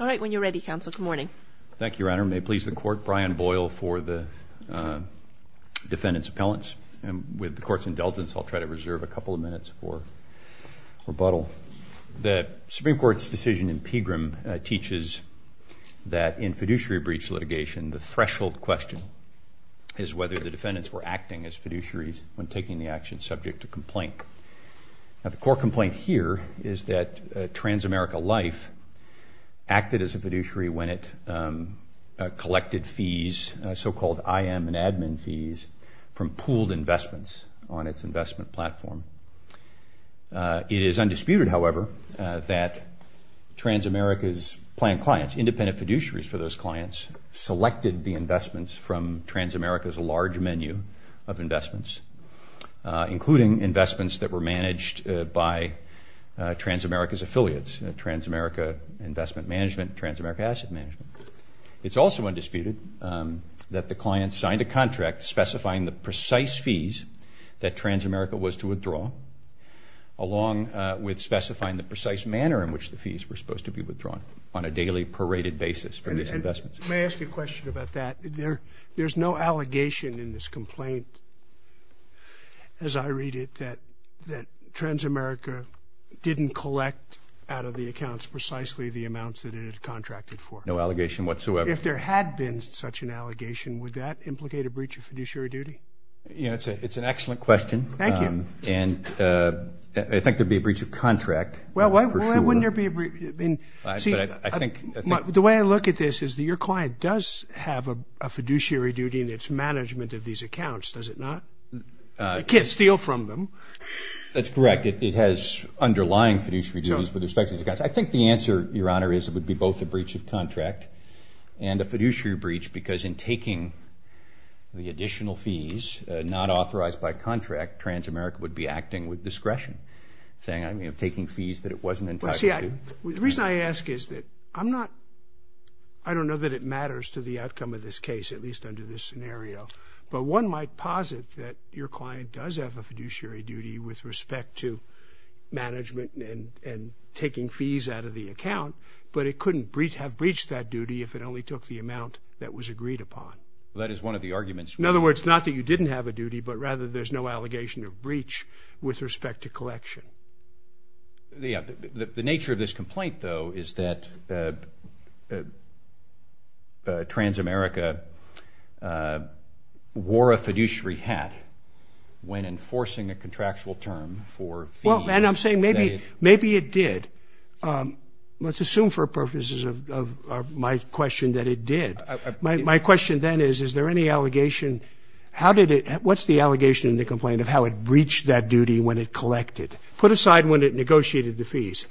All right, when you're ready, counsel, good morning. Thank you, Your Honor. May it please the Court, Brian Boyle for the defendant's appellants. And with the Court's indulgence, I'll try to reserve a couple of minutes for rebuttal. The Supreme Court's decision in Pegram teaches that in fiduciary breach litigation, the threshold question is whether the defendants were acting as fiduciaries when taking the action subject to complaint. Now, the core complaint here is that Transamerica Life acted as a fiduciary when it collected fees, so-called IM and admin fees, from pooled investments on its investment platform. It is undisputed, however, that Transamerica's planned clients, independent fiduciaries for those clients, selected the investments from Transamerica's large menu of investments, including investments that were managed by Transamerica's affiliates, Transamerica Investment Management, Transamerica Asset Management. It's also undisputed that the client signed a contract specifying the precise fees that Transamerica was to withdraw, along with specifying the precise manner in which the fees were supposed to be withdrawn on a daily paraded basis for these investments. May I ask you a question about that? There's no allegation in this complaint, as I understand it, that Transamerica didn't collect out of the accounts precisely the amounts that it had contracted for. No allegation whatsoever. If there had been such an allegation, would that implicate a breach of fiduciary duty? You know, it's an excellent question. Thank you. And I think there'd be a breach of contract. Well, why wouldn't there be a breach? The way I look at this is that your client does have a fiduciary duty in its management of these accounts, does it not? You can't steal from them. That's correct. It has underlying fiduciary duties with respect to these accounts. I think the answer, Your Honor, is it would be both a breach of contract and a fiduciary breach because in taking the additional fees not authorized by contract, Transamerica would be acting with discretion saying, I mean, of taking fees that it wasn't entitled to. Well, see, the reason I ask is that I'm not I don't know that it matters to the outcome of this case, at least under this scenario, but one might posit that your client does have a fiduciary duty with respect to management and taking fees out of the account, but it couldn't have breached that duty if it only took the amount that was agreed upon. That is one of the arguments. In other words, not that you didn't have a duty, but rather there's no allegation of breach with respect to collection. The nature of this complaint, though, is that Transamerica wore a fiduciary hat when enforcing a contractual term for fees. Well, and I'm saying maybe it did. Let's assume for purposes of my question that it did. My question then is, is there any allegation, how did it what's the allegation in the complaint of how it breached that duty when it collected? Put aside when it negotiated the fees.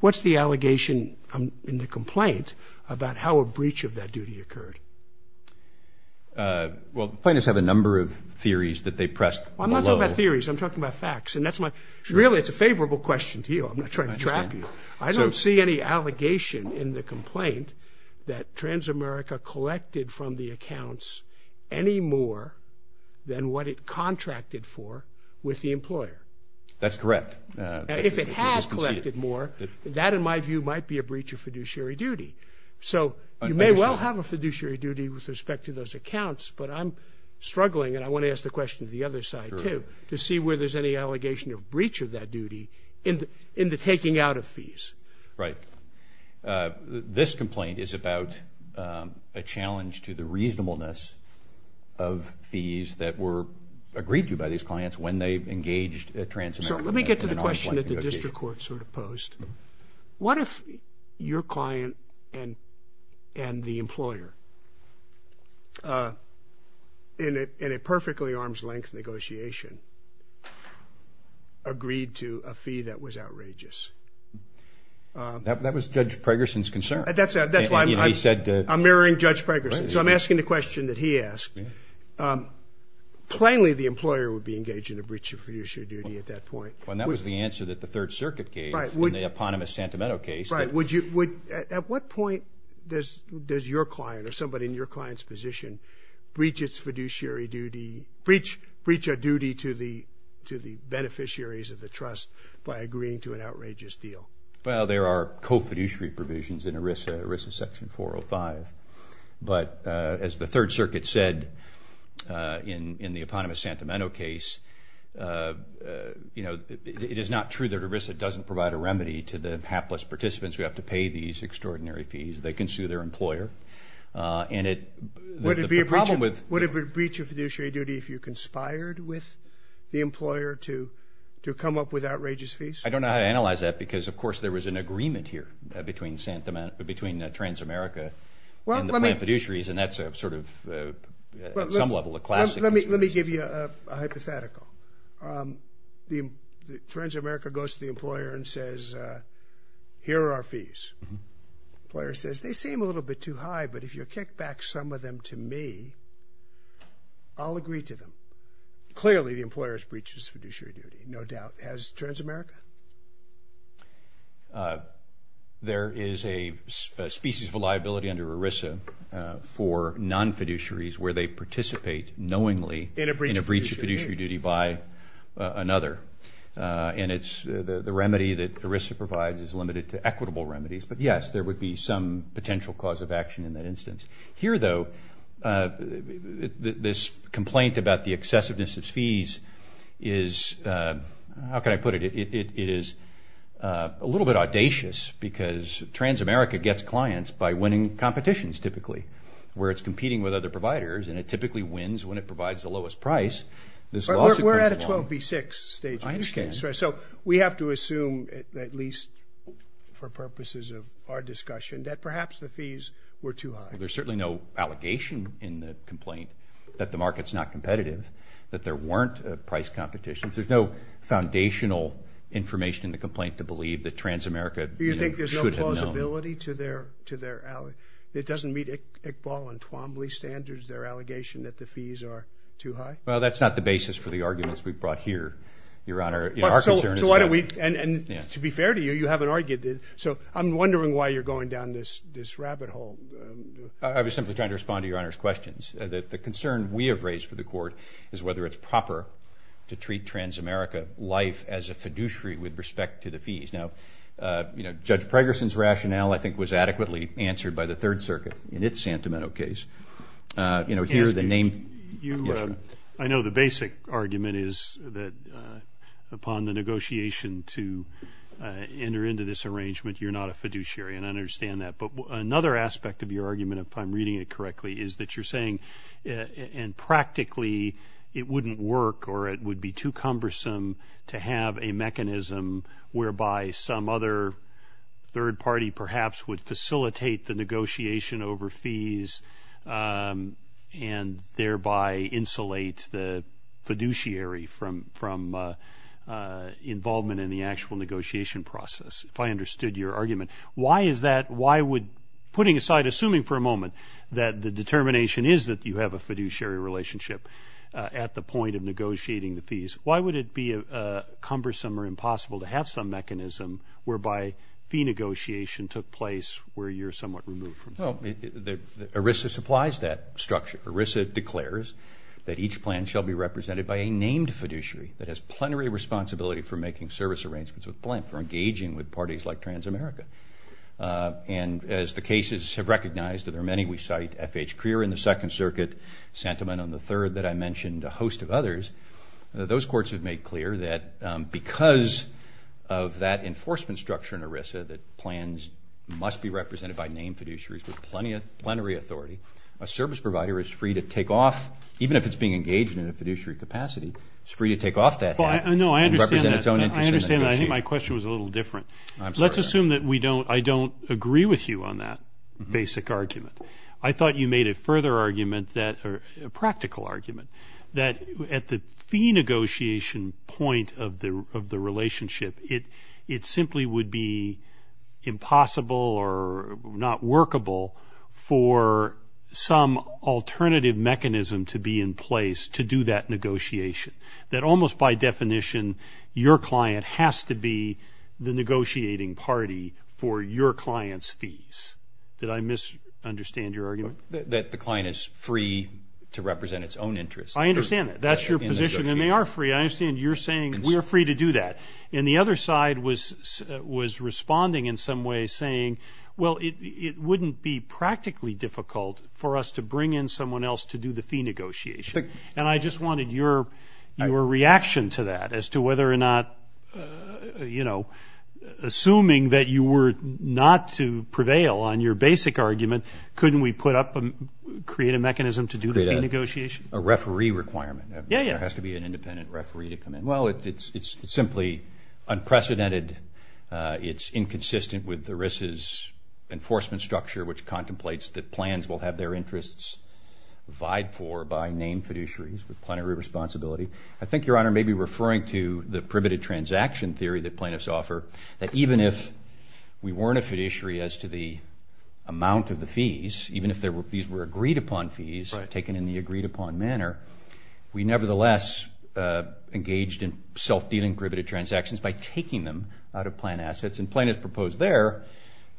What's the allegation in the complaint about how a breach of that duty occurred? Well, the plaintiffs have a number of theories that they pressed below. I'm not talking about theories. I'm talking about facts. Really, it's a favorable question to you. I'm not trying to trap you. I don't see any allegation in the complaint that Transamerica collected from the accounts any more than what it contracted for with the employer. That's correct. If it had collected more, that, in my view, might be a breach of You may well have a fiduciary duty with respect to those accounts, but I'm struggling, and I want to ask the question of the other side too, to see where there's any allegation of breach of that duty in the taking out of fees. Right. This complaint is about a challenge to the reasonableness of fees that were agreed to by these clients when they engaged at Transamerica. So let me get to the question that the district court sort of posed. What if your client and the employer in a perfectly arm's length negotiation agreed to a fee that was outrageous? That was Judge Pregerson's concern. I'm mirroring Judge Pregerson, so I'm asking the question that he asked. Plainly, the employer would be engaged in a breach of fiduciary duty at that point. And that was the answer that the Third Circuit gave in the eponymous Santimento case. At what point does your client or somebody in your client's position breach its fiduciary duty, breach a duty to the beneficiaries of the trust by agreeing to an outrageous deal? Well, there are co-fiduciary provisions in ERISA, Section 405. But as the Third Circuit said in the eponymous Santimento case, it is not true that ERISA doesn't provide a remedy to the hapless participants who have to pay these extraordinary fees. They can sue their employer. Would it be a breach of fiduciary duty if you conspired with the employer to come up with outrageous fees? I don't know how to analyze that because, of course, there was an agreement here between Transamerica and the plain fiduciaries, and that's sort of some level a classic. Let me give you a hypothetical. Transamerica goes to the employer and says, here are our fees. The employer says, they seem a little bit too high, but if you kick back some of them to me, I'll agree to them. Clearly, the employer has breached its fiduciary duty, no doubt. Has Transamerica? There is a species of liability under ERISA for non-fiduciaries where they participate knowingly in a breach of fiduciary duty by another. The remedy that ERISA provides is limited to equitable remedies, but yes, there would be some potential cause of action in that instance. Here, though, this complaint about the excessiveness of fees is how can I put it? It is a little bit audacious because Transamerica gets clients by winning competitions, typically, where it's competing with other providers and it typically wins when it provides the lowest price. We're at a 12 v. 6 stage. I understand. We have to assume, at least for purposes of our discussion, that perhaps the fees were too high. There's certainly no allegation in the complaint that the market is not competitive, that there weren't price competitions. There's no foundational information in the complaint to believe that Transamerica should have known. Do you think there's no plausibility to their it doesn't meet Iqbal and Twombly standards, their allegation that the fees are too high? Well, that's not the basis for the arguments we've brought here, Your Honor. To be fair to you, you haven't argued this, so I'm wondering why you're going down this rabbit hole. I was simply trying to respond to Your Honor's questions. The concern we have raised for the Court is whether it's proper to treat Transamerica life as a fiduciary with respect to the fees. Now, Judge Pregerson's rationale, I think, was adequately answered by the Third Circuit in its Santimento case. I know the basic argument is that upon the negotiation to enter into this arrangement, you're not a fiduciary, and I understand that. But another aspect of your argument, if I'm reading it correctly, is that you're saying, and practically, it wouldn't work or it would be too cumbersome to have a mechanism whereby some other third party, perhaps, would facilitate the negotiation over fees and thereby insulate the fiduciary from involvement in the actual negotiation process, if I understood your argument. Why is that? Why would putting aside, assuming for a moment, that the determination is that you have a fiduciary relationship at the point of negotiating the fees, why would it be cumbersome or impossible to have some mechanism whereby fee negotiation took place where you're somewhat removed from that? Well, ERISA supplies that structure. ERISA declares that each plan shall be represented by a named fiduciary that has plenary responsibility for making service arrangements with Blink, for engaging with parties like Transamerica. And as the cases have recognized, and there are many we cite, F.H. Crear in the Second Circuit, Santimento in the Third that I mentioned, a host of others, those courts have made clear that because of that enforcement structure in ERISA that plans must be represented by named fiduciaries with plenary authority, a service provider is free to take off, even if it's being engaged in a fiduciary capacity, it's free to take off that hat and represent its own interest in the negotiation. I understand that. I think my question was a little different. Let's assume that we don't, I don't agree with you on that basic argument. I thought you made a further argument that, a practical argument, that at the fee negotiation point of the relationship, it simply would be impossible or not workable for some alternative mechanism to be in place to do that negotiation. That almost by definition, your client has to be the negotiating party for your client's fees. Did I misunderstand your argument? That the client is free to represent its own interest. I understand that. That's your position. And they are free. I understand you're saying we're free to do that. And the other side was responding in some way saying well it wouldn't be practically difficult for us to bring in someone else to do the fee negotiation. And I just wanted your reaction to that as to whether or not assuming that you were not to prevail on your basic argument, couldn't we put up, create a mechanism to do the fee negotiation? A referee requirement. Yeah, yeah. There has to be an independent referee to come in. Well, it's simply unprecedented. It's inconsistent with the RISA's enforcement structure which contemplates that plans will have their interests vied for by named fiduciaries with plenary responsibility. I think your honor may be referring to the priveted transaction theory that plaintiffs offer, that even if we weren't a fiduciary as to the if these were agreed upon fees taken in the agreed upon manner, we nevertheless engaged in self-dealing priveted transactions by taking them out of plan assets. And plaintiffs proposed there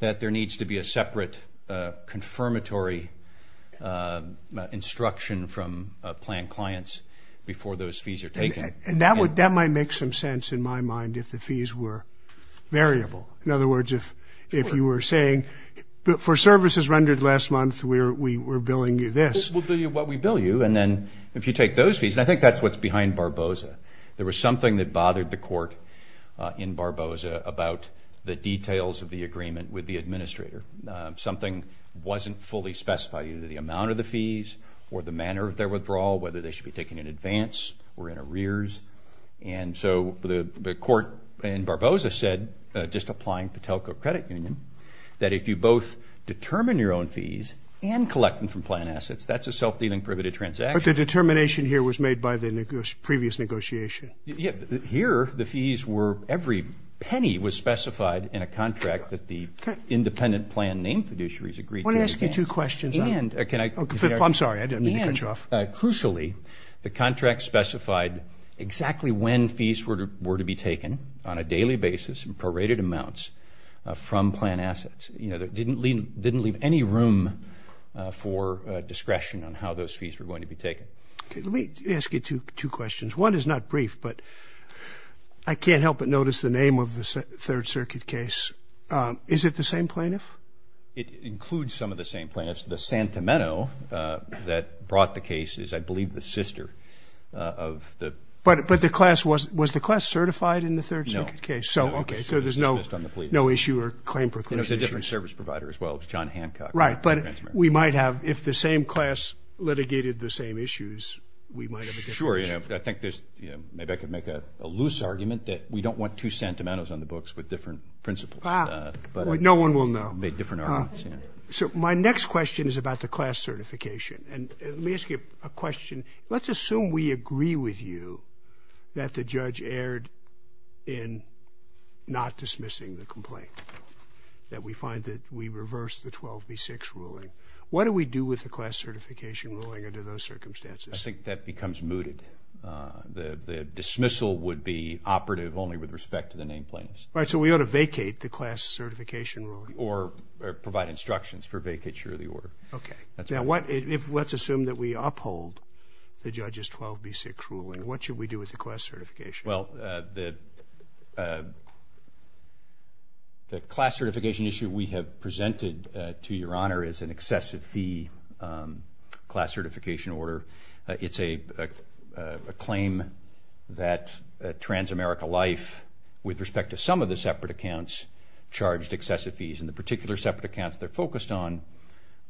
that there needs to be a separate confirmatory instruction from plan clients before those fees are taken. And that might make some sense in my mind if the fees were variable. In other words, if you were saying for services rendered last month we're billing you this. We'll bill you what we bill you and then if you take those fees, and I think that's what's behind Barboza, there was something that bothered the court in Barboza about the details of the agreement with the administrator. Something wasn't fully specified, either the amount of the fees or the manner of their withdrawal, whether they should be taken in advance or in arrears. And so the court in Barboza said, just applying the Patelco Credit Union, that if you both determine your own fees and collect them from plan assets, that's a self-dealing priveted transaction. But the determination here was made by the previous negotiation. Here, the fees were, every penny was specified in a contract that the independent plan name fiduciaries agreed to in advance. I want to ask you two questions. I'm sorry, I didn't mean to cut you off. Crucially, the contract specified exactly when fees were to be taken on a contract from plan assets. It didn't leave any room for discretion on how those fees were going to be taken. Let me ask you two questions. One is not brief, but I can't help but notice the name of the Third Circuit case. Is it the same plaintiff? It includes some of the same plaintiffs. The Santameno that brought the case is, I believe, the sister of the... Was the class certified in the Third Circuit? It's a different service provider as well. John Hancock. If the same class litigated the same issues, we might have a different issue. Maybe I could make a loose argument that we don't want two Santamenos on the books with different principles. No one will know. My next question is about the class certification. Let me ask you a question. Let's assume we agree with you that the judge erred in not dismissing the complaint. That we find that we reversed the 12B6 ruling. What do we do with the class certification ruling under those circumstances? I think that becomes mooted. The dismissal would be operative only with respect to the name plaintiffs. So we ought to vacate the class certification ruling? Or provide instructions for vacature of the order. Let's assume that we uphold the judge's 12B6 ruling. What should we do with the class certification? The class certification issue we have presented to your honor is an excessive fee class certification order. It's a claim that Transamerica Life, with respect to some of the separate accounts, charged excessive fees. And the particular separate accounts they're focused on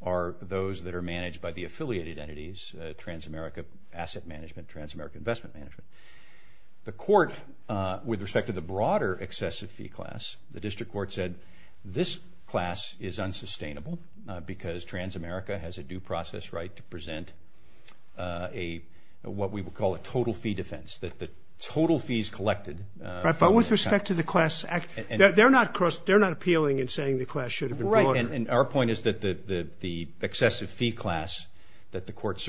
are those that are managed by the affiliated entities, Transamerica Asset Management, Transamerica Investment Management. The court, with respect to the broader excessive fee class, the district court said this class is unsustainable because Transamerica has a due process right to present what we would call a total fee defense. That the total fees collected... But with respect to the class they're not appealing in saying the class should have been broader. Our point is that the excessive fee class that the court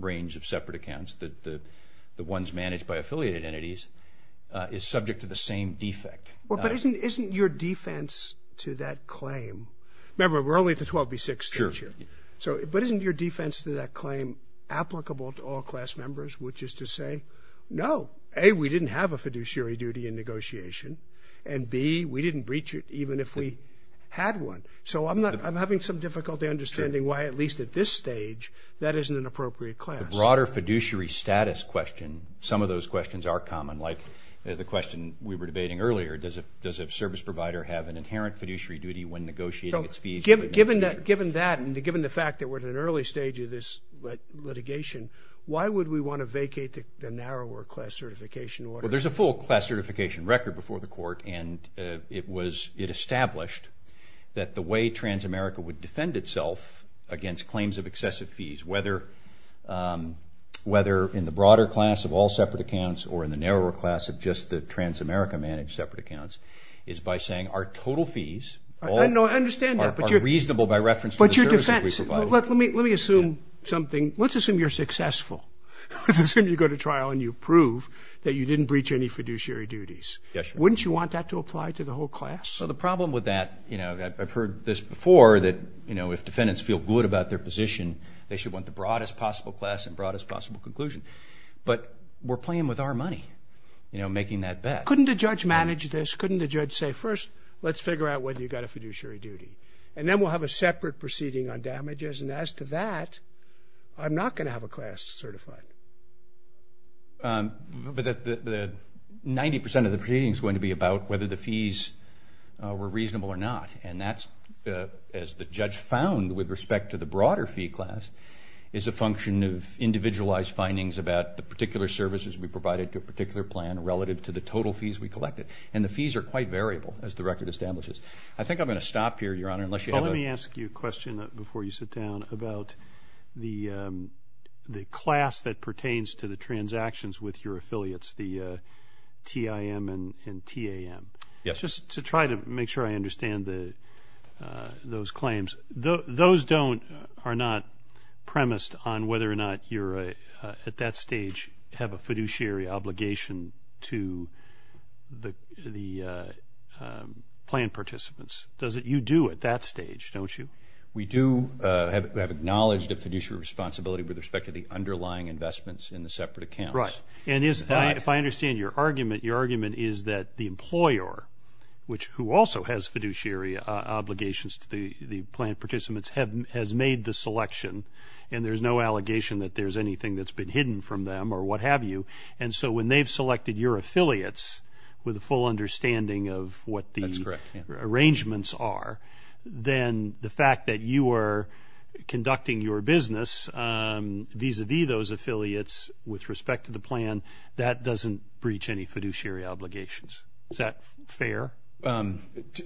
range of separate accounts, the ones managed by affiliated entities, is subject to the same defect. But isn't your defense to that claim... Remember, we're only at the 12B6 stage here. But isn't your defense to that claim applicable to all class members, which is to say, no, A, we didn't have a fiduciary duty in negotiation, and B, we didn't breach it even if we had one. So I'm having some difficulty understanding why, at least at this class. The broader fiduciary status question, some of those questions are common, like the question we were debating earlier, does a service provider have an inherent fiduciary duty when negotiating its fees? Given that, and given the fact that we're at an early stage of this litigation, why would we want to vacate the narrower class certification order? Well, there's a full class certification record before the court, and it established that the way Transamerica would defend itself against claims of excessive fees, whether in the broader class of all separate accounts or in the narrower class of just the Transamerica managed separate accounts, is by saying our total fees are reasonable by reference to the services we provide. Let me assume something. Let's assume you're successful. Let's assume you go to trial and you prove that you didn't breach any fiduciary duties. Wouldn't you want that to apply to the whole class? Well, the problem with that, I've heard this before, that if defendants feel good about their position, they should want the broadest possible class and broadest possible conclusion. But we're playing with our money, making that bet. Couldn't a judge manage this? Couldn't a judge say, first, let's figure out whether you've got a fiduciary duty. And then we'll have a separate proceeding on damages, and as to that, I'm not going to have a class certified. But 90% of the proceeding is going to be about whether the fees were reasonable or not. And that's, as the judge found with respect to the broader fee class, is a function of individualized findings about the particular services we provided to a particular plan relative to the total fees we collected. And the fees are quite variable, as the record establishes. I think I'm going to stop here, Your Honor. Well, let me ask you a question before you sit down about the class that pertains to the transactions with your affiliates, the TIM and TAM. Just to try to make sure I understand those claims, those are not premised on whether or not you're, at that stage, have a fiduciary obligation to the plan participants. You do at that stage, don't you? We do have acknowledged a fiduciary responsibility with respect to the underlying investments in the separate accounts. And if I understand your argument, your argument is that the employer, who also has fiduciary obligations to the plan participants, has made the selection, and there's no allegation that there's anything that's been hidden from them or what have you. And so when they've selected your affiliates with a full understanding of what the arrangements are, then the fact that you are conducting your business vis-a-vis those affiliates with respect to the plan, that doesn't breach any fiduciary obligations. Is that fair?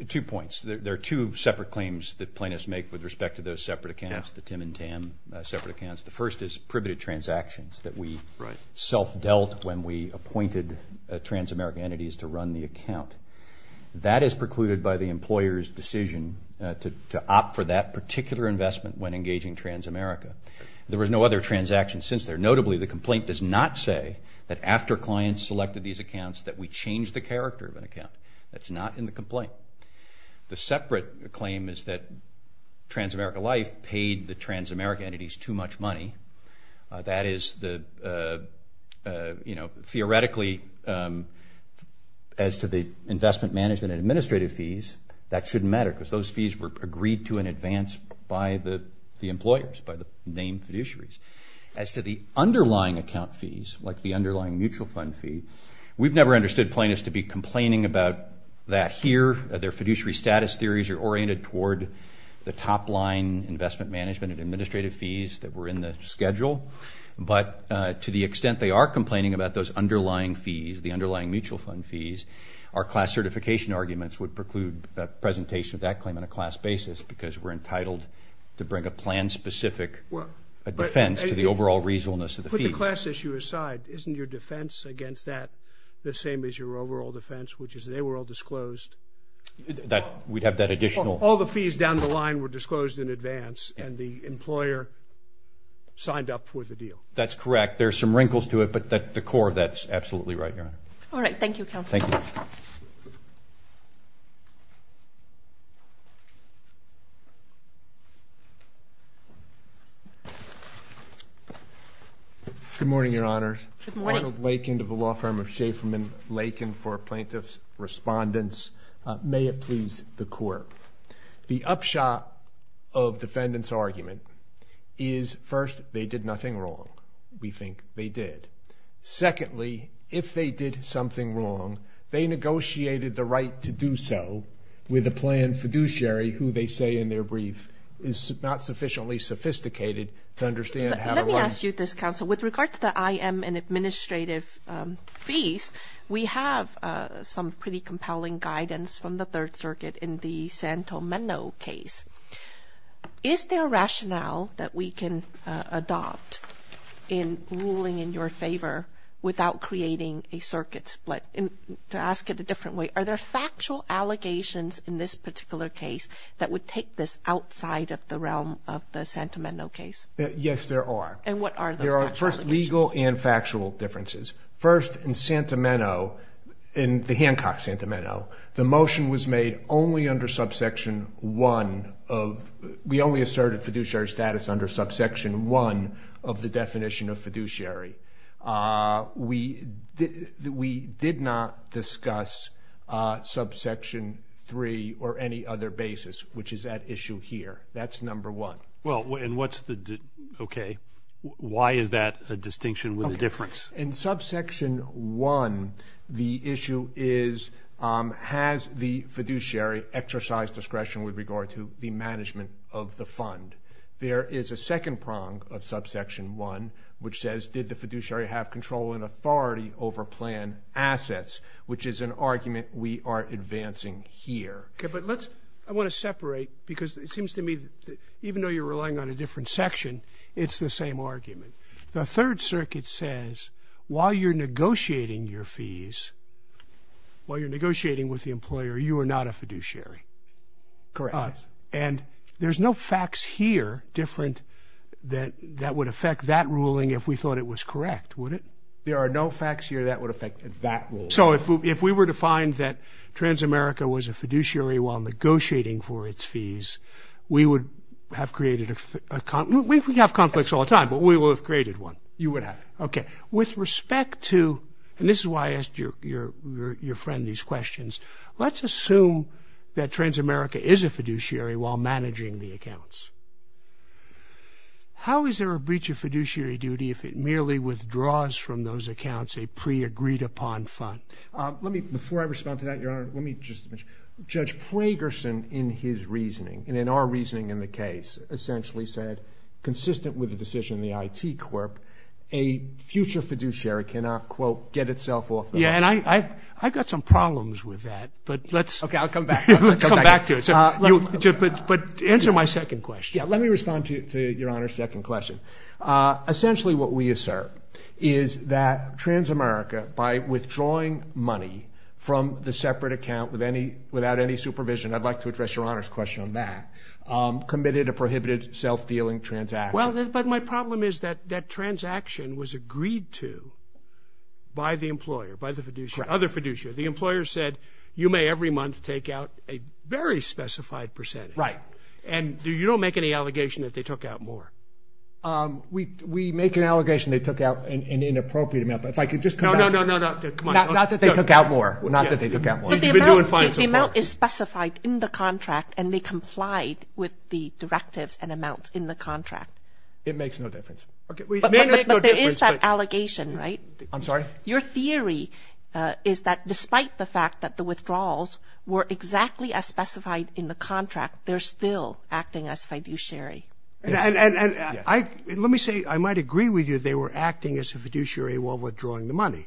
Two points. There are two separate claims that planists make with respect to those separate accounts, the TIM and TAM separate accounts. The first is privative transactions that we self-dealt when we appointed trans-American entities to run the account. That is precluded by the employer's decision to opt for that particular investment when engaging trans-America. There was no other transaction since there. Notably, the complaint does not say that after clients selected these accounts that we changed the character of an account. That's not in the complaint. The separate claim is that trans-America Life paid the trans-America entities too much money. That is the theoretically as to the investment management and administrative fees, that shouldn't matter because those fees were agreed to in advance by the employers, by the named fiduciaries. As to the underlying account fees, like the underlying mutual fund fee, we've never understood plaintiffs to be complaining about that here. Their fiduciary status theories are oriented toward the top-line investment management and administrative fees that were in the schedule. But to the extent they are complaining about those underlying fees, the underlying mutual fund fees, our class certification arguments would preclude a presentation of that claim on a class basis because we're entitled to bring a plan-specific defense to the overall reasonableness of the fees. Put the class issue aside. Isn't your defense against that the same as your overall defense, which is they were all disclosed? We'd have that additional... All the fees down the line were disclosed in advance and the employer signed up for the deal. That's correct. There are some wrinkles to it, but the core of that is absolutely right, Your Honor. All right. Thank you, Counselor. Thank you. Good morning, Your Honor. Good morning. Arnold Lakin of the law firm of Schaeferman-Lakin for Plaintiff's Respondents. May it please the Court. The upshot of defendants' argument is, first, they did nothing wrong. We think they did. Secondly, if they did something wrong, they negotiated the right to do so with a planned fiduciary who they say in their brief is not sufficiently sophisticated to understand how to... Let me ask you this, Counsel. With regard to the IM and administrative fees, we have some pretty compelling guidance from the Third Circuit in the Santo Meno case. Is there a rationale that we can adopt in ruling in your favor without creating a circuit split? To ask it a different way, are there factual allegations in this particular case that would take this outside of the realm of the Santo Meno case? Yes, there are. And what are those factual allegations? There are, first, legal and factual differences. First, in Santo Meno, in the Hancock Santo Meno, the motion was made only under subsection 1 of... We only asserted fiduciary status under subsection 1 of the definition of fiduciary. We did not discuss subsection 3 or any other basis, which is at issue here. That's number 1. Well, and what's the... Okay. Why is that a distinction with a difference? In subsection 1, the issue is has the fiduciary exercised discretion with regard to the management of the fund? There is a second prong of subsection 1, which says, did the fiduciary have control and authority over plan assets, which is an argument we are advancing here. Okay, but let's... I want to separate, because it seems to me that even though you're relying on a different section, it's the same argument. The Third Circuit says while you're negotiating your fees, while you're negotiating with the employer, you are not a fiduciary. Correct. And there's no facts here different that would affect that ruling if we thought it was correct, would it? There are no facts here that would affect that ruling. So if we were to find that Transamerica was a fiduciary while negotiating for its fees, we would have created a... We have conflicts all the time, but we would have created one. You would have. Okay. With respect to, and this is why I asked your friend these questions, let's assume that Transamerica is a fiduciary while managing the accounts. How is there a breach of fiduciary duty if it merely withdraws from those accounts a pre-agreed upon fund? Let me, before I respond to that, your honor, let me just... Judge Pragerson in his reasoning, and in our reasoning in the case, essentially said, consistent with the decision of the IT Corp, a future fiduciary cannot quote, get itself off the... Yeah, and I got some problems with that, but let's... Okay, I'll come back. Let's come back to it. But answer my second question. Yeah, let me respond to your honor's second question. Essentially what we assert is that Transamerica by withdrawing money from the separate account without any supervision, I'd like to address your honor's question on that, committed a prohibited self-dealing transaction. Well, but my problem is that transaction was agreed to by the employer, by the fiduciary, other fiduciary. The employer said you may every month take out a very specified percentage. Right. And you don't make any We make an allegation they took out an inappropriate amount, but if I could just No, no, no, no. Not that they took out more. Not that they took out more. The amount is specified in the contract and they complied with the directives and amounts in the contract. It makes no difference. But there is that allegation, right? I'm sorry? Your theory is that despite the fact that the withdrawals were exactly as specified in the contract, they're still acting as fiduciary. And let me say I might agree with you they were acting as a fiduciary while withdrawing the money.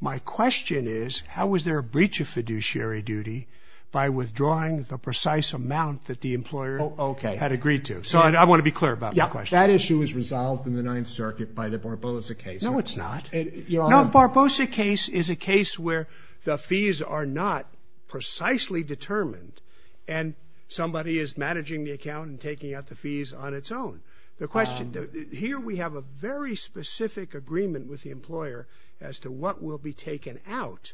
My question is how was there a breach of fiduciary duty by withdrawing the precise amount that the employer had agreed to? So I want to be clear about that question. That issue was resolved in the Ninth Circuit by the Barbosa case. No, it's not. No, the Barbosa case is a case where the fees are not precisely determined and somebody is paying the fees on its own. Here we have a very specific agreement with the employer as to what will be taken out.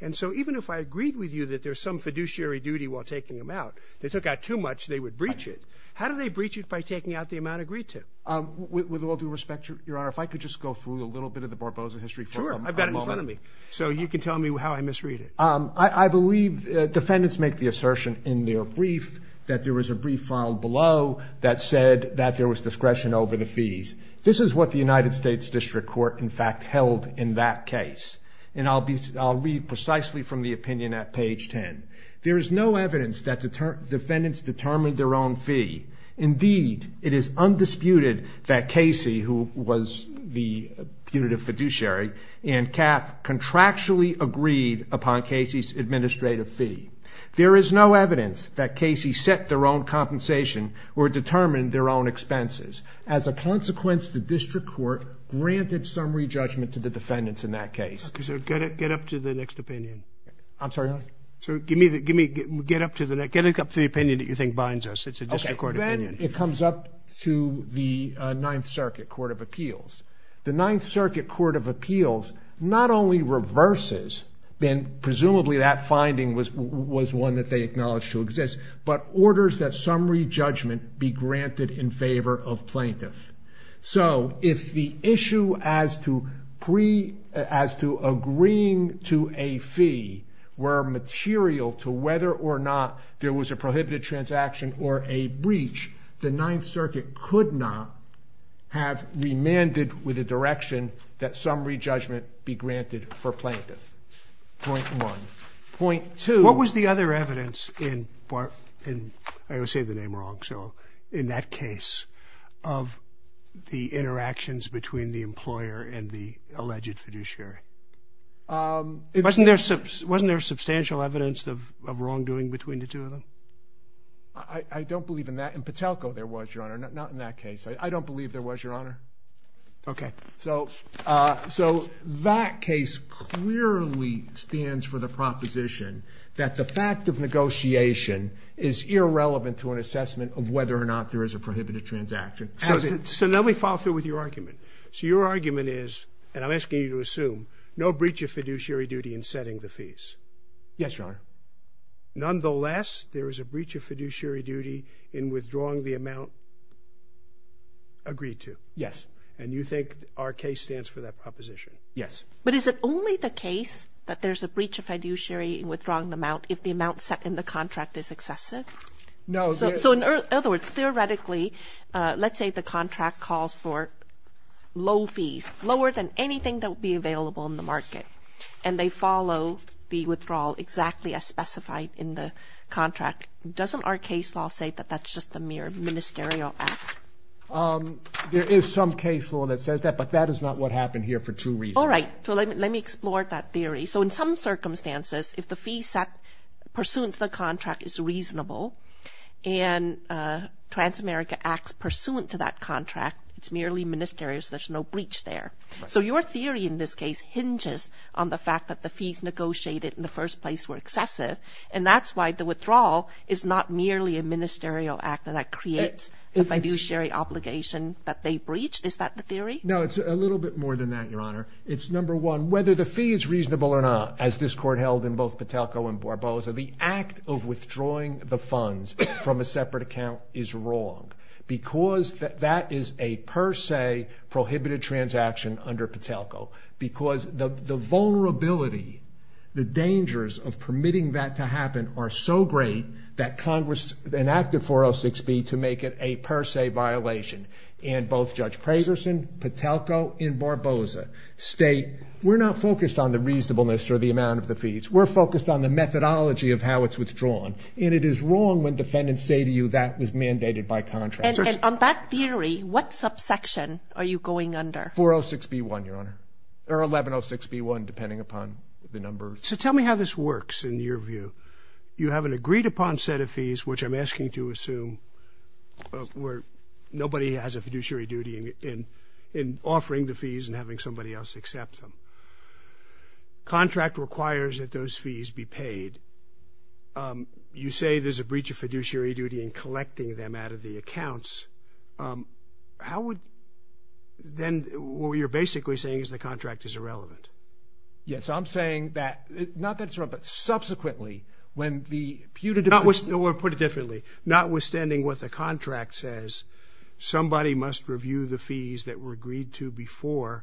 And so even if I agreed with you that there's some fiduciary duty while taking them out they took out too much, they would breach it. How do they breach it by taking out the amount agreed to? With all due respect Your Honor, if I could just go through a little bit of the Barbosa history for a moment. Sure, I've got it in front of me. So you can tell me how I misread it. I believe defendants make the assertion in their brief that there was a brief filed below that said that there was discretion over the fees. This is what the United States District Court in fact held in that case. And I'll read precisely from the opinion at page 10. There is no evidence that defendants determined their own fee. Indeed, it is undisputed that Casey who was the punitive fiduciary and Cap contractually agreed upon Casey's administrative fee. There is no evidence that Casey set their own compensation or determined their own expenses. As a consequence, the District Court granted summary judgment to the defendants in that case. Get up to the next opinion. I'm sorry? Get up to the opinion that you think binds us. It's a District Court opinion. Then it comes up to the Ninth Circuit Court of Appeals. The Ninth Circuit Court of Appeals not only reverses then presumably that finding was one that they acknowledged to exist but orders that summary judgment be granted in favor of plaintiff. So, if the issue as to agreeing to a fee were material to whether or not there was a prohibited transaction or a breach, the Ninth Circuit could not have remanded with a direction that summary judgment be granted. Point one. Point two. What was the other evidence in I always say the name wrong so, in that case of the interactions between the employer and the alleged fiduciary? Wasn't there substantial evidence of wrongdoing between the two of them? I don't believe in that. In Patelco there was, Your Honor. Not in that case. I don't believe there was, Your Honor. Okay. So, that case clearly stands for the proposition that the fact of negotiation is irrelevant to an assessment of whether or not there is a prohibited transaction. So, let me follow through with your argument. So, your argument is, and I'm asking you to assume, no breach of fiduciary duty in setting the fees. Yes, Your Honor. Nonetheless, there is a breach of fiduciary duty in withdrawing the amount agreed to. Yes. And you think our case stands for that proposition? Yes. But is it only the case that there's a breach of fiduciary in withdrawing the amount if the amount set in the contract is excessive? No. So, in other words, theoretically, let's say the contract calls for low fees, lower than anything that would be available in the market. And they follow the withdrawal exactly as specified in the contract. Doesn't our case law say that that's just a mere ministerial act? There is some case law that says that, but that is not what happened here for two reasons. All right. So, let me explore that theory. So, in some circumstances, if the fee set pursuant to the contract is reasonable and Transamerica acts pursuant to that contract, it's merely ministerial, so there's no breach there. So, your theory in this case hinges on the fact that the fees negotiated in the first place were excessive, and that's why the withdrawal is not merely a ministerial act, and that creates the fiduciary obligation that they breached? Is that the theory? No, it's a little bit more than that, Your Honor. It's, number one, whether the fee is reasonable or not, as this Court held in both Patelco and Barboza, the act of withdrawing the funds from a separate account is wrong because that is a per se prohibited transaction under Patelco, because the vulnerability, the dangers of permitting that to happen are so great that Congress enacted 406B to make it a per se violation, and both Judge Pragerson, Patelco, and Barboza state, we're not focused on the reasonableness or the amount of the fees. We're focused on the methodology of how it's withdrawn, and it is wrong when defendants say to you, that was mandated by contract. And on that theory, what subsection are you going under? 406B1, Your Honor. Or 1106B1, depending upon the review. You have an agreed upon set of fees, which I'm asking to assume where nobody has a fiduciary duty in offering the fees and having somebody else accept them. Contract requires that those fees be paid. You say there's a breach of fiduciary duty in collecting them out of the accounts. How would, then, what you're basically saying is the contract is irrelevant. Yes, I'm saying that, not that it's wrong, but subsequently when the putative Or put it differently, notwithstanding what the contract says, somebody must review the fees that were agreed to before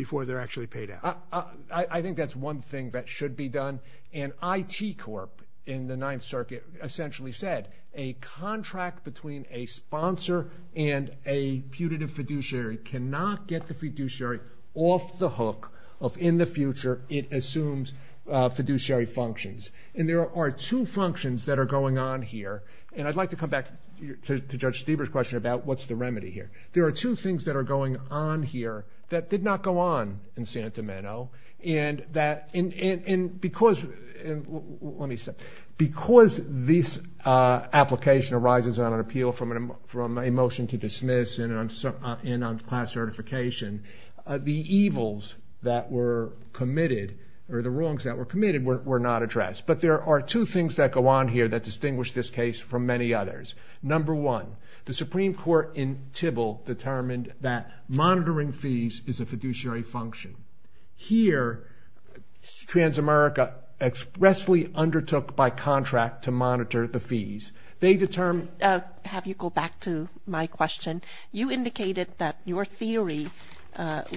they're actually paid out. I think that's one thing that should be done. And IT Corp in the Ninth Circuit essentially said a contract between a sponsor and a putative fiduciary cannot get the fiduciary off the hook if in the future it assumes fiduciary functions. And there are two functions that are going on here, and I'd like to come back to Judge Stieber's question about what's the remedy here. There are two things that are going on here that did not go on in Santa Mano. Because this application arises on an appeal from a motion to dismiss and on class certification, the evils that were committed, or the wrongs that were committed, were not addressed. But there are two things that go on here that distinguish this case from many others. Number one, the Supreme Court in Tybil determined that monitoring fees is a fiduciary function. Here, Transamerica expressly undertook by contract to monitor the fees. They determined... Go back to my question. You indicated that your theory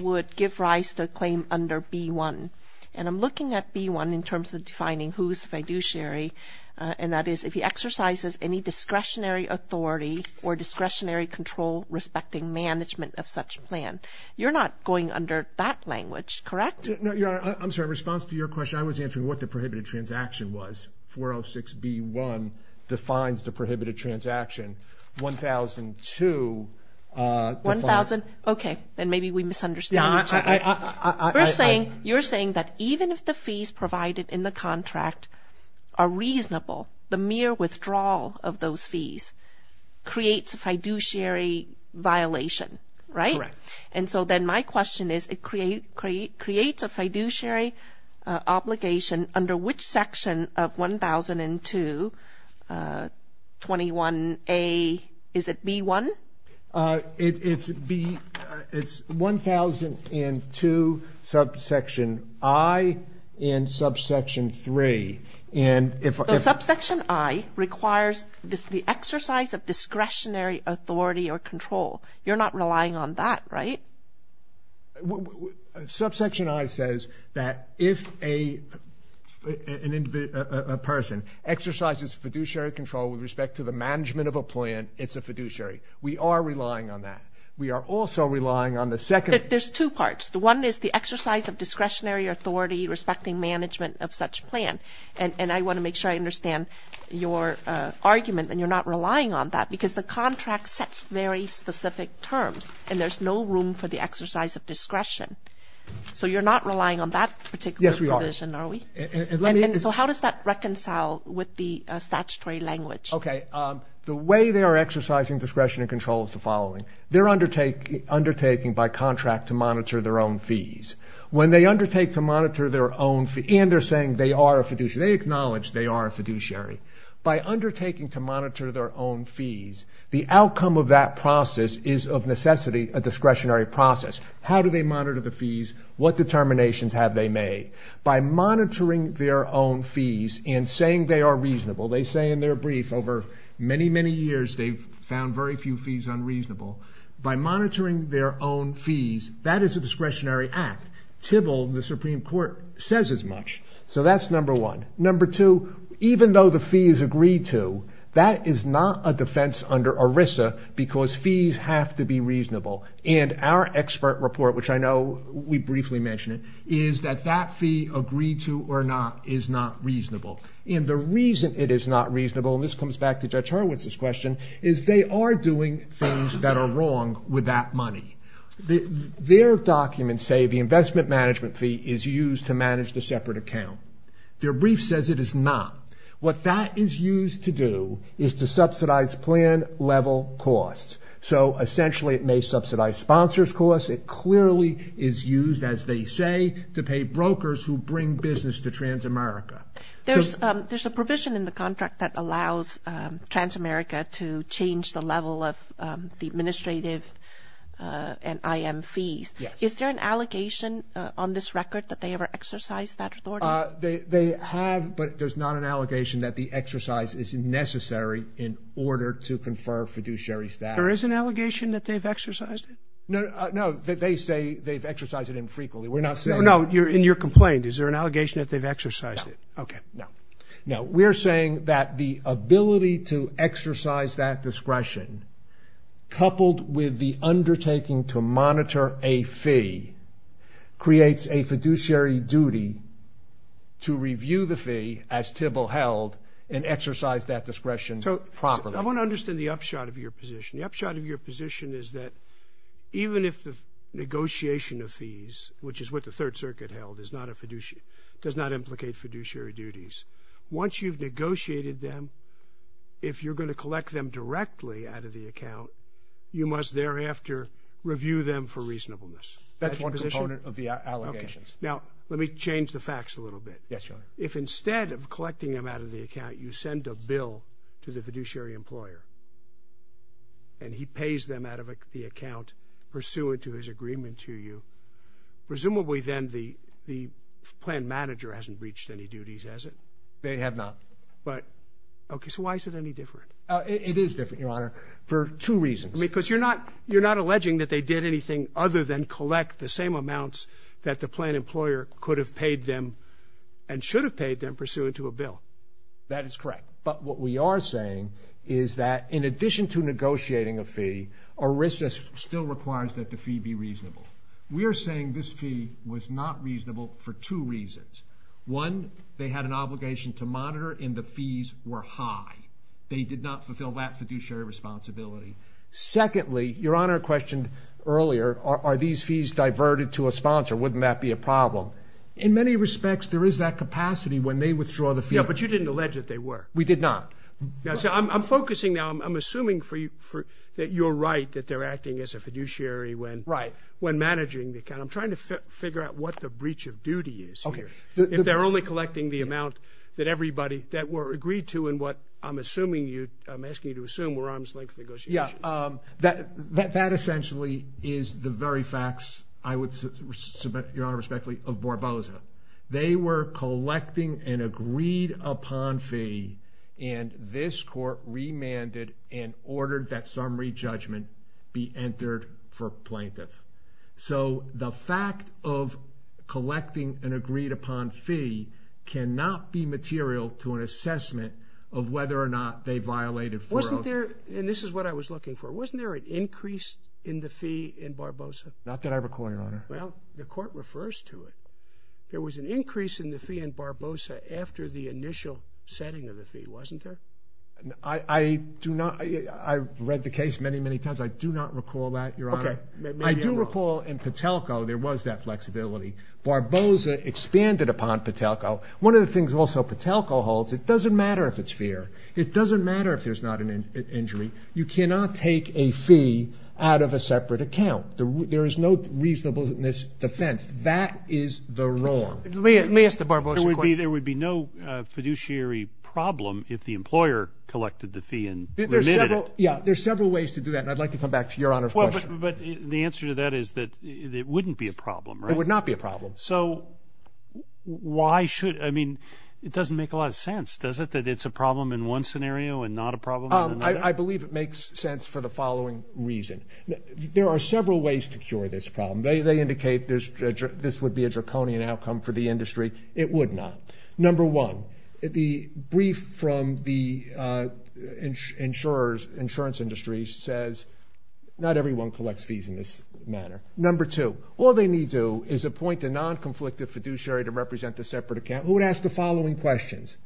would give rise to a claim under B-1. And I'm looking at B-1 in terms of defining who's fiduciary, and that is if he exercises any discretionary authority or discretionary control respecting management of such plan. You're not going under that language, correct? No, Your Honor. I'm sorry. In response to your question, I was answering what the prohibited transaction was. 406B-1 defines the prohibited transaction. 1002 defines... Okay. Then maybe we misunderstood each other. You're saying that even if the fees provided in the contract are reasonable, the mere withdrawal of those fees creates a fiduciary violation, right? Correct. And so then my question is, it creates a fiduciary obligation under which section of 1002 21A... Is it B-1? It's 1002 subsection I and subsection 3. So subsection I requires the exercise of discretionary authority or control. You're not relying on that, right? Subsection I says that if a person exercises fiduciary control with respect to the management of a plan, it's a fiduciary. We are relying on that. We are also relying on the second... There's two parts. One is the exercise of discretionary authority respecting management of such plan. And I want to make sure I understand your argument that you're not relying on that because the contract sets very specific terms, and there's no room for the exercise of discretion. So you're not relying on that particular provision, are we? And so how does that reconcile with the statutory language? Okay. The way they are exercising discretionary control is the following. They're undertaking by contract to monitor their own fees. When they undertake to monitor their own fees, and they're saying they are a fiduciary, they acknowledge they are a fiduciary. By undertaking to monitor their own fees, the outcome of that process is of necessity a discretionary process. How do they monitor the fees? What determinations have they made? By monitoring their own fees and saying they are reasonable, they say in their brief over many, many years they've found very few fees unreasonable. By monitoring their own fees, that is a discretionary act. Tybil, the Supreme Court, says as much. So that's number one. Number two, even though the fees agree to, that is not a defense under ERISA because fees have to be reasonable. And our expert report, which I know we briefly mentioned it, is that that fee agreed to or not is not reasonable. And the reason it is not reasonable, and this comes back to Judge Hurwitz's question, is they are doing things that are wrong with that money. Their documents say the investment management fee is used to manage the separate account. Their brief says it is not. What that is used to do is to subsidize plan level costs. So essentially it may subsidize sponsors' costs. It clearly is used, as they say, to pay brokers who bring business to Trans America. There's a provision in the contract that allows Trans America to change the level of the administrative and IM fees. Is there an allegation on this record that they ever exercised that authority? They have, but there's not an allegation that the exercise is necessary in order to confer fiduciary status. There is an allegation that they've exercised it? No, they say they've exercised it infrequently. We're not saying... No, in your complaint, is there an allegation that they've exercised it? No. We're saying that the ability to exercise that discretion coupled with the undertaking to monitor a fee creates a fiduciary duty to review the fee as Thibault held and exercise that discretion properly. I want to understand the upshot of your position. The upshot of your position is that even if the negotiation of fees, which is what the Third Circuit held, does not implicate fiduciary duties, once you've negotiated them, if you're going to collect them directly out of the account, you must thereafter review them for reasonableness. That's one component of the allegations. Now, let me change the facts a little bit. Yes, Your Honor. If instead of collecting them out of the account, you send a bill to the fiduciary employer and he pays them out of the account pursuant to his agreement to you, presumably then the plan manager hasn't reached any duties, has it? They have not. But... Okay, so why is it any different? It is different, Your Honor, for two reasons. Because you're not alleging that they did anything other than collect the same amounts that the plan employer could have paid them and should have paid them pursuant to a bill. That is correct. But what we are saying is that in addition to negotiating a fee, a risk still requires that the fee be reasonable. We are saying this fee was not reasonable for two reasons. One, they had an obligation to monitor and the fees were high. They did not fulfill that fiduciary responsibility. Secondly, Your Honor questioned earlier, are these fees diverted to a sponsor? Wouldn't that be a problem? In many respects, there is that capacity when they withdraw the fee. Yeah, but you didn't allege that they were. We did not. I'm focusing now, I'm assuming that you're right, that they're acting as a fiduciary when managing the account. I'm trying to figure out what the breach of duty is here. If they're only collecting the amount that everybody, that were agreed to in what I'm assuming you, I'm asking you to assume, were arm's length negotiations. Yeah, that essentially is the very facts I would submit, Your Honor, respectfully, of Barboza. They were collecting an agreed upon fee and this court remanded and ordered that summary judgment be entered for plaintiff. So, the fact of collecting an agreed upon fee cannot be material to an assessment of whether or not they violated 4-0. Wasn't there, and this is what I was looking for, wasn't there an increase in the fee in Barboza? Not that I recall, Your Honor. Well, the court refers to it. There was an increase in the fee in Barboza after the initial setting of the fee. Wasn't there? I do not, I read the case many many times. I do not recall that, Your Honor. I do recall in Patelco there was that flexibility. Barboza expanded upon Patelco. One of the things also Patelco holds, it doesn't matter if it's fair. It doesn't matter if there's not an injury. You cannot take a fee out of a separate account. There is no reasonableness defense. That is the wrong. Let me ask the Barboza question. There would be no fiduciary problem if the employer collected the fee and remitted it. Yeah, there's several ways to do that, and I'd like to come back to Your Honor's question. But the answer to that is that it wouldn't be a problem, right? It would not be a problem. So, why should, I mean, it doesn't make a lot of sense, does it, that it's a problem in one scenario and not a problem in another? I believe it makes sense for the following reason. There are several ways to cure this problem. They indicate this would be a draconian outcome for the industry. It would not. Number one, the brief from the insurance industry says not everyone collects fees in this manner. Number two, all they need to do is appoint a non- conflicted fiduciary to represent the separate account. Who would ask the following questions?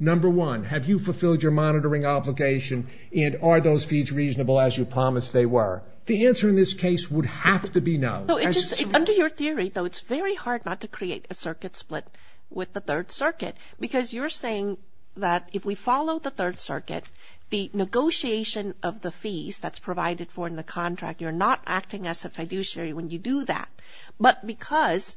Number one, have you fulfilled your monitoring obligation, and are those fees reasonable as you promised they were? The answer in this case would have to be no. Under your theory, though, it's very hard not to create a circuit split with the Third Circuit, because you're saying that if we follow the Third Circuit, the negotiation of the fees that's provided for in the contract, you're not acting as a fiduciary when you do that. But because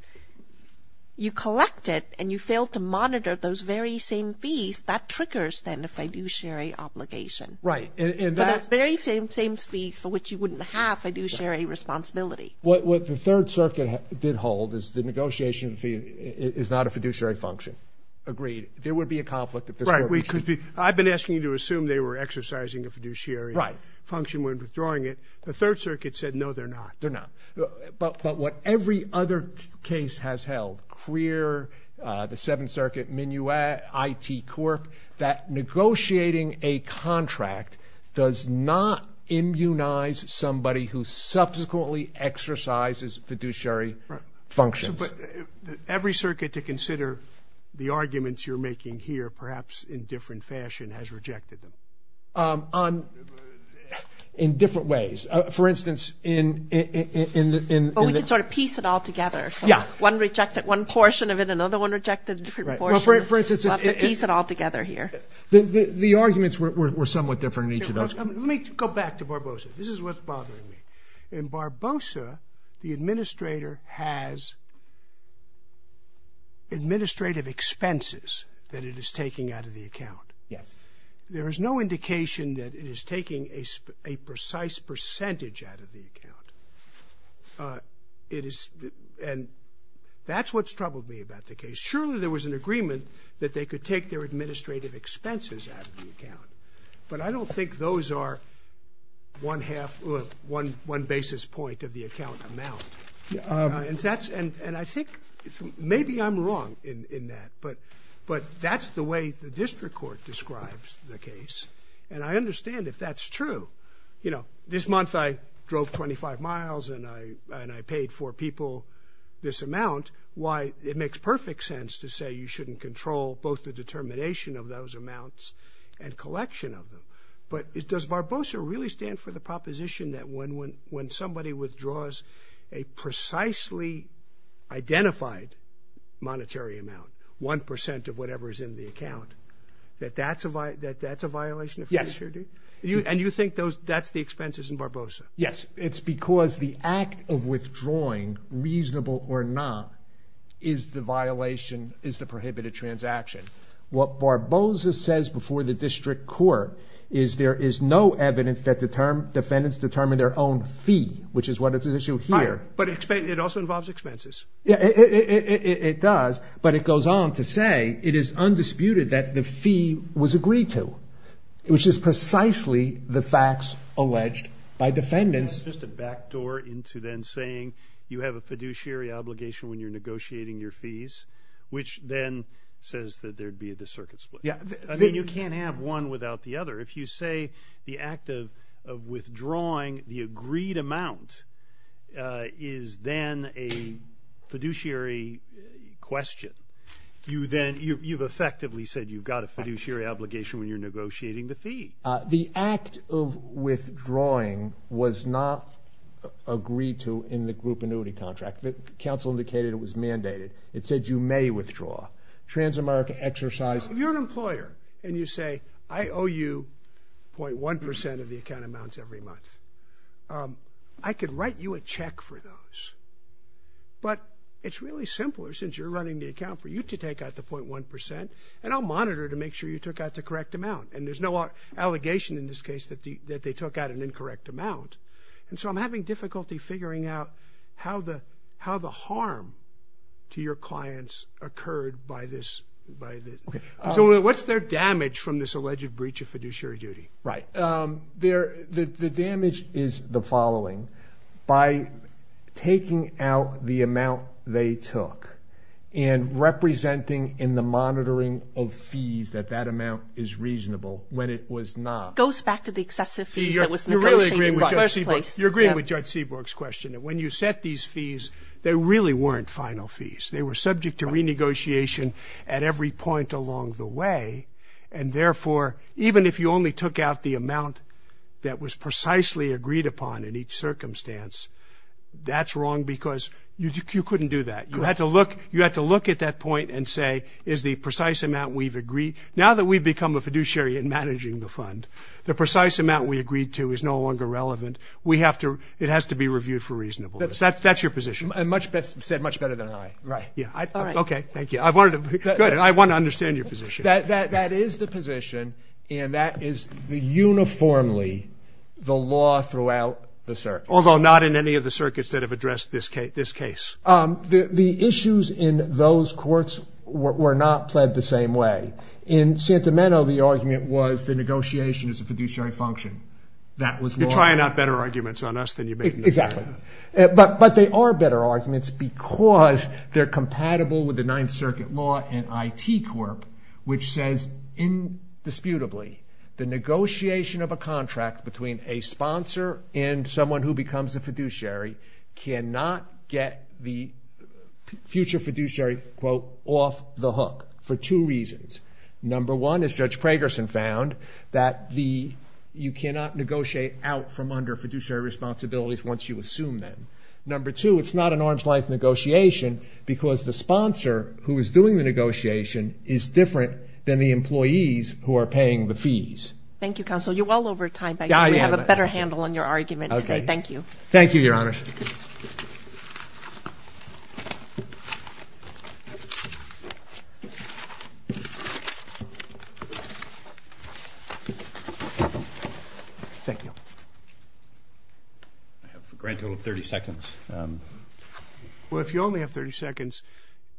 you collected and you failed to monitor those very same fees, that triggers, then, a fiduciary obligation. For those very same fees for which you wouldn't have fiduciary responsibility. What the Third Circuit did hold is the negotiation fee is not a fiduciary function. Agreed. There would be a conflict. I've been asking you to assume they were exercising a fiduciary function when withdrawing it. The Third Circuit said no, they're not. They're not. But what every other case has held, CREER, the Seventh Court, that negotiating a contract does not immunize somebody who subsequently exercises fiduciary functions. Every circuit to consider the arguments you're making here, perhaps in different fashion, has rejected them. In different ways. For instance, in the... Well, we could sort of piece it all together. Yeah. One rejected one portion of it, another one rejected a different portion. Well, for instance... We'll have to piece it all together here. The arguments were somewhat different in each of those cases. Let me go back to Barbosa. This is what's bothering me. In Barbosa, the administrator has administrative expenses that it is taking out of the account. Yes. There is no indication that it is taking a precise percentage out of the account. It is... And that's what's in agreement, that they could take their administrative expenses out of the account. But I don't think those are one half... one basis point of the account amount. And that's... And I think... Maybe I'm wrong in that. But that's the way the district court describes the case. And I understand if that's true. This month I drove 25 miles and I paid four people this amount. Why, it makes perfect sense to say you shouldn't control both the determination of those amounts and collection of them. But does Barbosa really stand for the proposition that when somebody withdraws a precisely identified monetary amount, one percent of whatever is in the account, that that's a violation of fiduciary duty? Yes. And you think that's the expenses in Barbosa? Yes. It's because the act of withdrawal is the violation, is the prohibited transaction. What Barbosa says before the district court is there is no evidence that defendants determine their own fee, which is what is at issue here. But it also involves expenses. It does. But it goes on to say it is undisputed that the fee was agreed to, which is precisely the facts alleged by defendants. That's just a backdoor into then saying you have a fiduciary obligation when you're negotiating your fees, which then says that there'd be a dis-circuit split. You can't have one without the other. If you say the act of withdrawing the agreed amount is then a fiduciary question, you've effectively said you've got a fiduciary obligation when you're negotiating the fee. The act of withdrawing was not agreed to in the group annuity contract. The council indicated it was mandated. It said you may withdraw. Transamerica exercised... If you're an employer and you say, I owe you .1 percent of the account amounts every month, I could write you a check for those. But it's really simpler since you're running the account for you to take out the .1 percent and I'll monitor to make sure you took out the correct amount. And there's no allegation in this case that they took out an incorrect amount. And so I'm having difficulty figuring out how the harm to your clients occurred by this. So what's their damage from this alleged breach of fiduciary duty? The damage is the following. By taking out the amount they took and representing in the monitoring of fees that that amount is reasonable when it was not. You're agreeing with Judge Seaborg's question. When you set these fees, they really weren't final fees. They were subject to renegotiation at every point along the way. And therefore, even if you only took out the amount that was precisely agreed upon in each circumstance, that's wrong because you couldn't do that. You had to look at that point and say, is the precise amount we've agreed... Now that we've become a fiduciary in managing the fund, the precise amount we agreed to is no longer relevant. It has to be reviewed for reasonableness. That's your position. Much better than I. I want to understand your position. That is the position, and that is uniformly the law throughout the circuits. Although not in any of the circuits that have addressed this case. The issues in those courts were not pled the same way. In Santameno, the argument was the negotiation is a fiduciary function. You're trying out better arguments on us than you make in the circuit. But they are better arguments because they're compatible with the Ninth Circuit law and IT Corp, which says indisputably the negotiation of a contract between a sponsor and someone who becomes a fiduciary cannot get the future fiduciary quote, off the hook, for two reasons. Number one, as Judge Pragerson found, that you cannot negotiate out from under fiduciary responsibilities once you assume them. Number two, it's not an arm's length negotiation because the sponsor who is doing the negotiation is different than the employees who are paying the fees. Thank you, counsel. You're well over time. We have a better handle on your argument today. Thank you. Thank you, Your Honor. Thank you. I have a grand total of 30 seconds. Well, if you only have 30 seconds,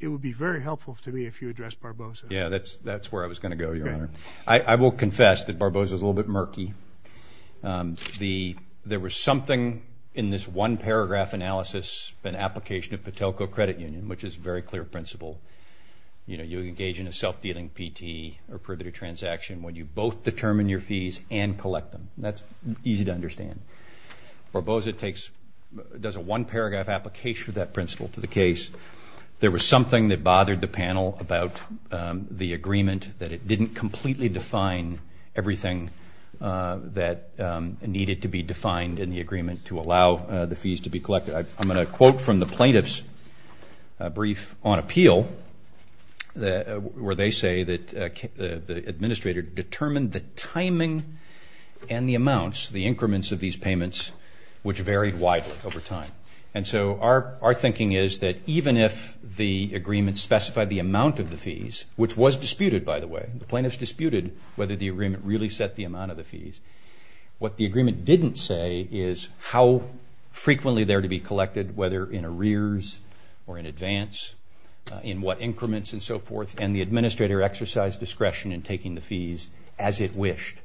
it would be very helpful to me if you addressed Barbosa. Yeah, that's where I was going to go, Your Honor. I will confess that Barbosa is a little bit murky. There was something in this one-paragraph analysis, an application of Patelco Credit Union, which is a very clear principle. You know, you engage in a self-dealing P.T. or privity transaction when you both determine your fees and collect them. That's easy to understand. Barbosa does a one-paragraph application of that principle to the case. There was something that bothered the panel about the agreement that it didn't completely define everything that needed to be defined in the agreement to allow the fees to be collected. I'm going to quote from the plaintiff's brief on appeal where they say that the administrator determined the timing and the amounts, the increments of these payments, which varied widely over time. And so our thinking is that even if the agreement specified the amount of the fees, which was disputed, by the way, the plaintiff's disputed whether the agreement really set the amount of the fees. What the agreement didn't say is how frequently they're to be collected, whether in arrears or in advance, in what increments and so forth, and the administrator exercised discretion in taking the fees as it wished.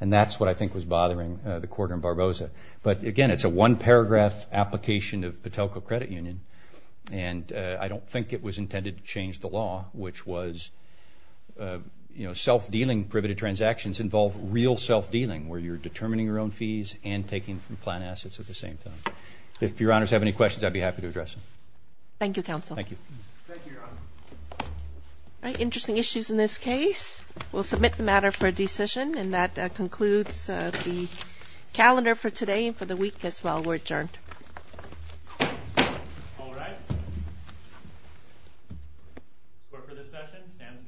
And that's what I think was bothering the court in Barbosa. But again, it's a one-paragraph application of Patelco Credit Union, and I don't think it was intended to change the law, which was self-dealing priveted transactions involve real self-dealing, where you're determining your own fees and taking from plant assets at the same time. If your honors have any questions, I'd be happy to address them. Thank you, counsel. Thank you. Thank you, your honor. All right, interesting issues in this case. We'll submit the matter for a decision, and that concludes the calendar for today and for the week as well. We're adjourned. All rise. Court for this session stands adjourned.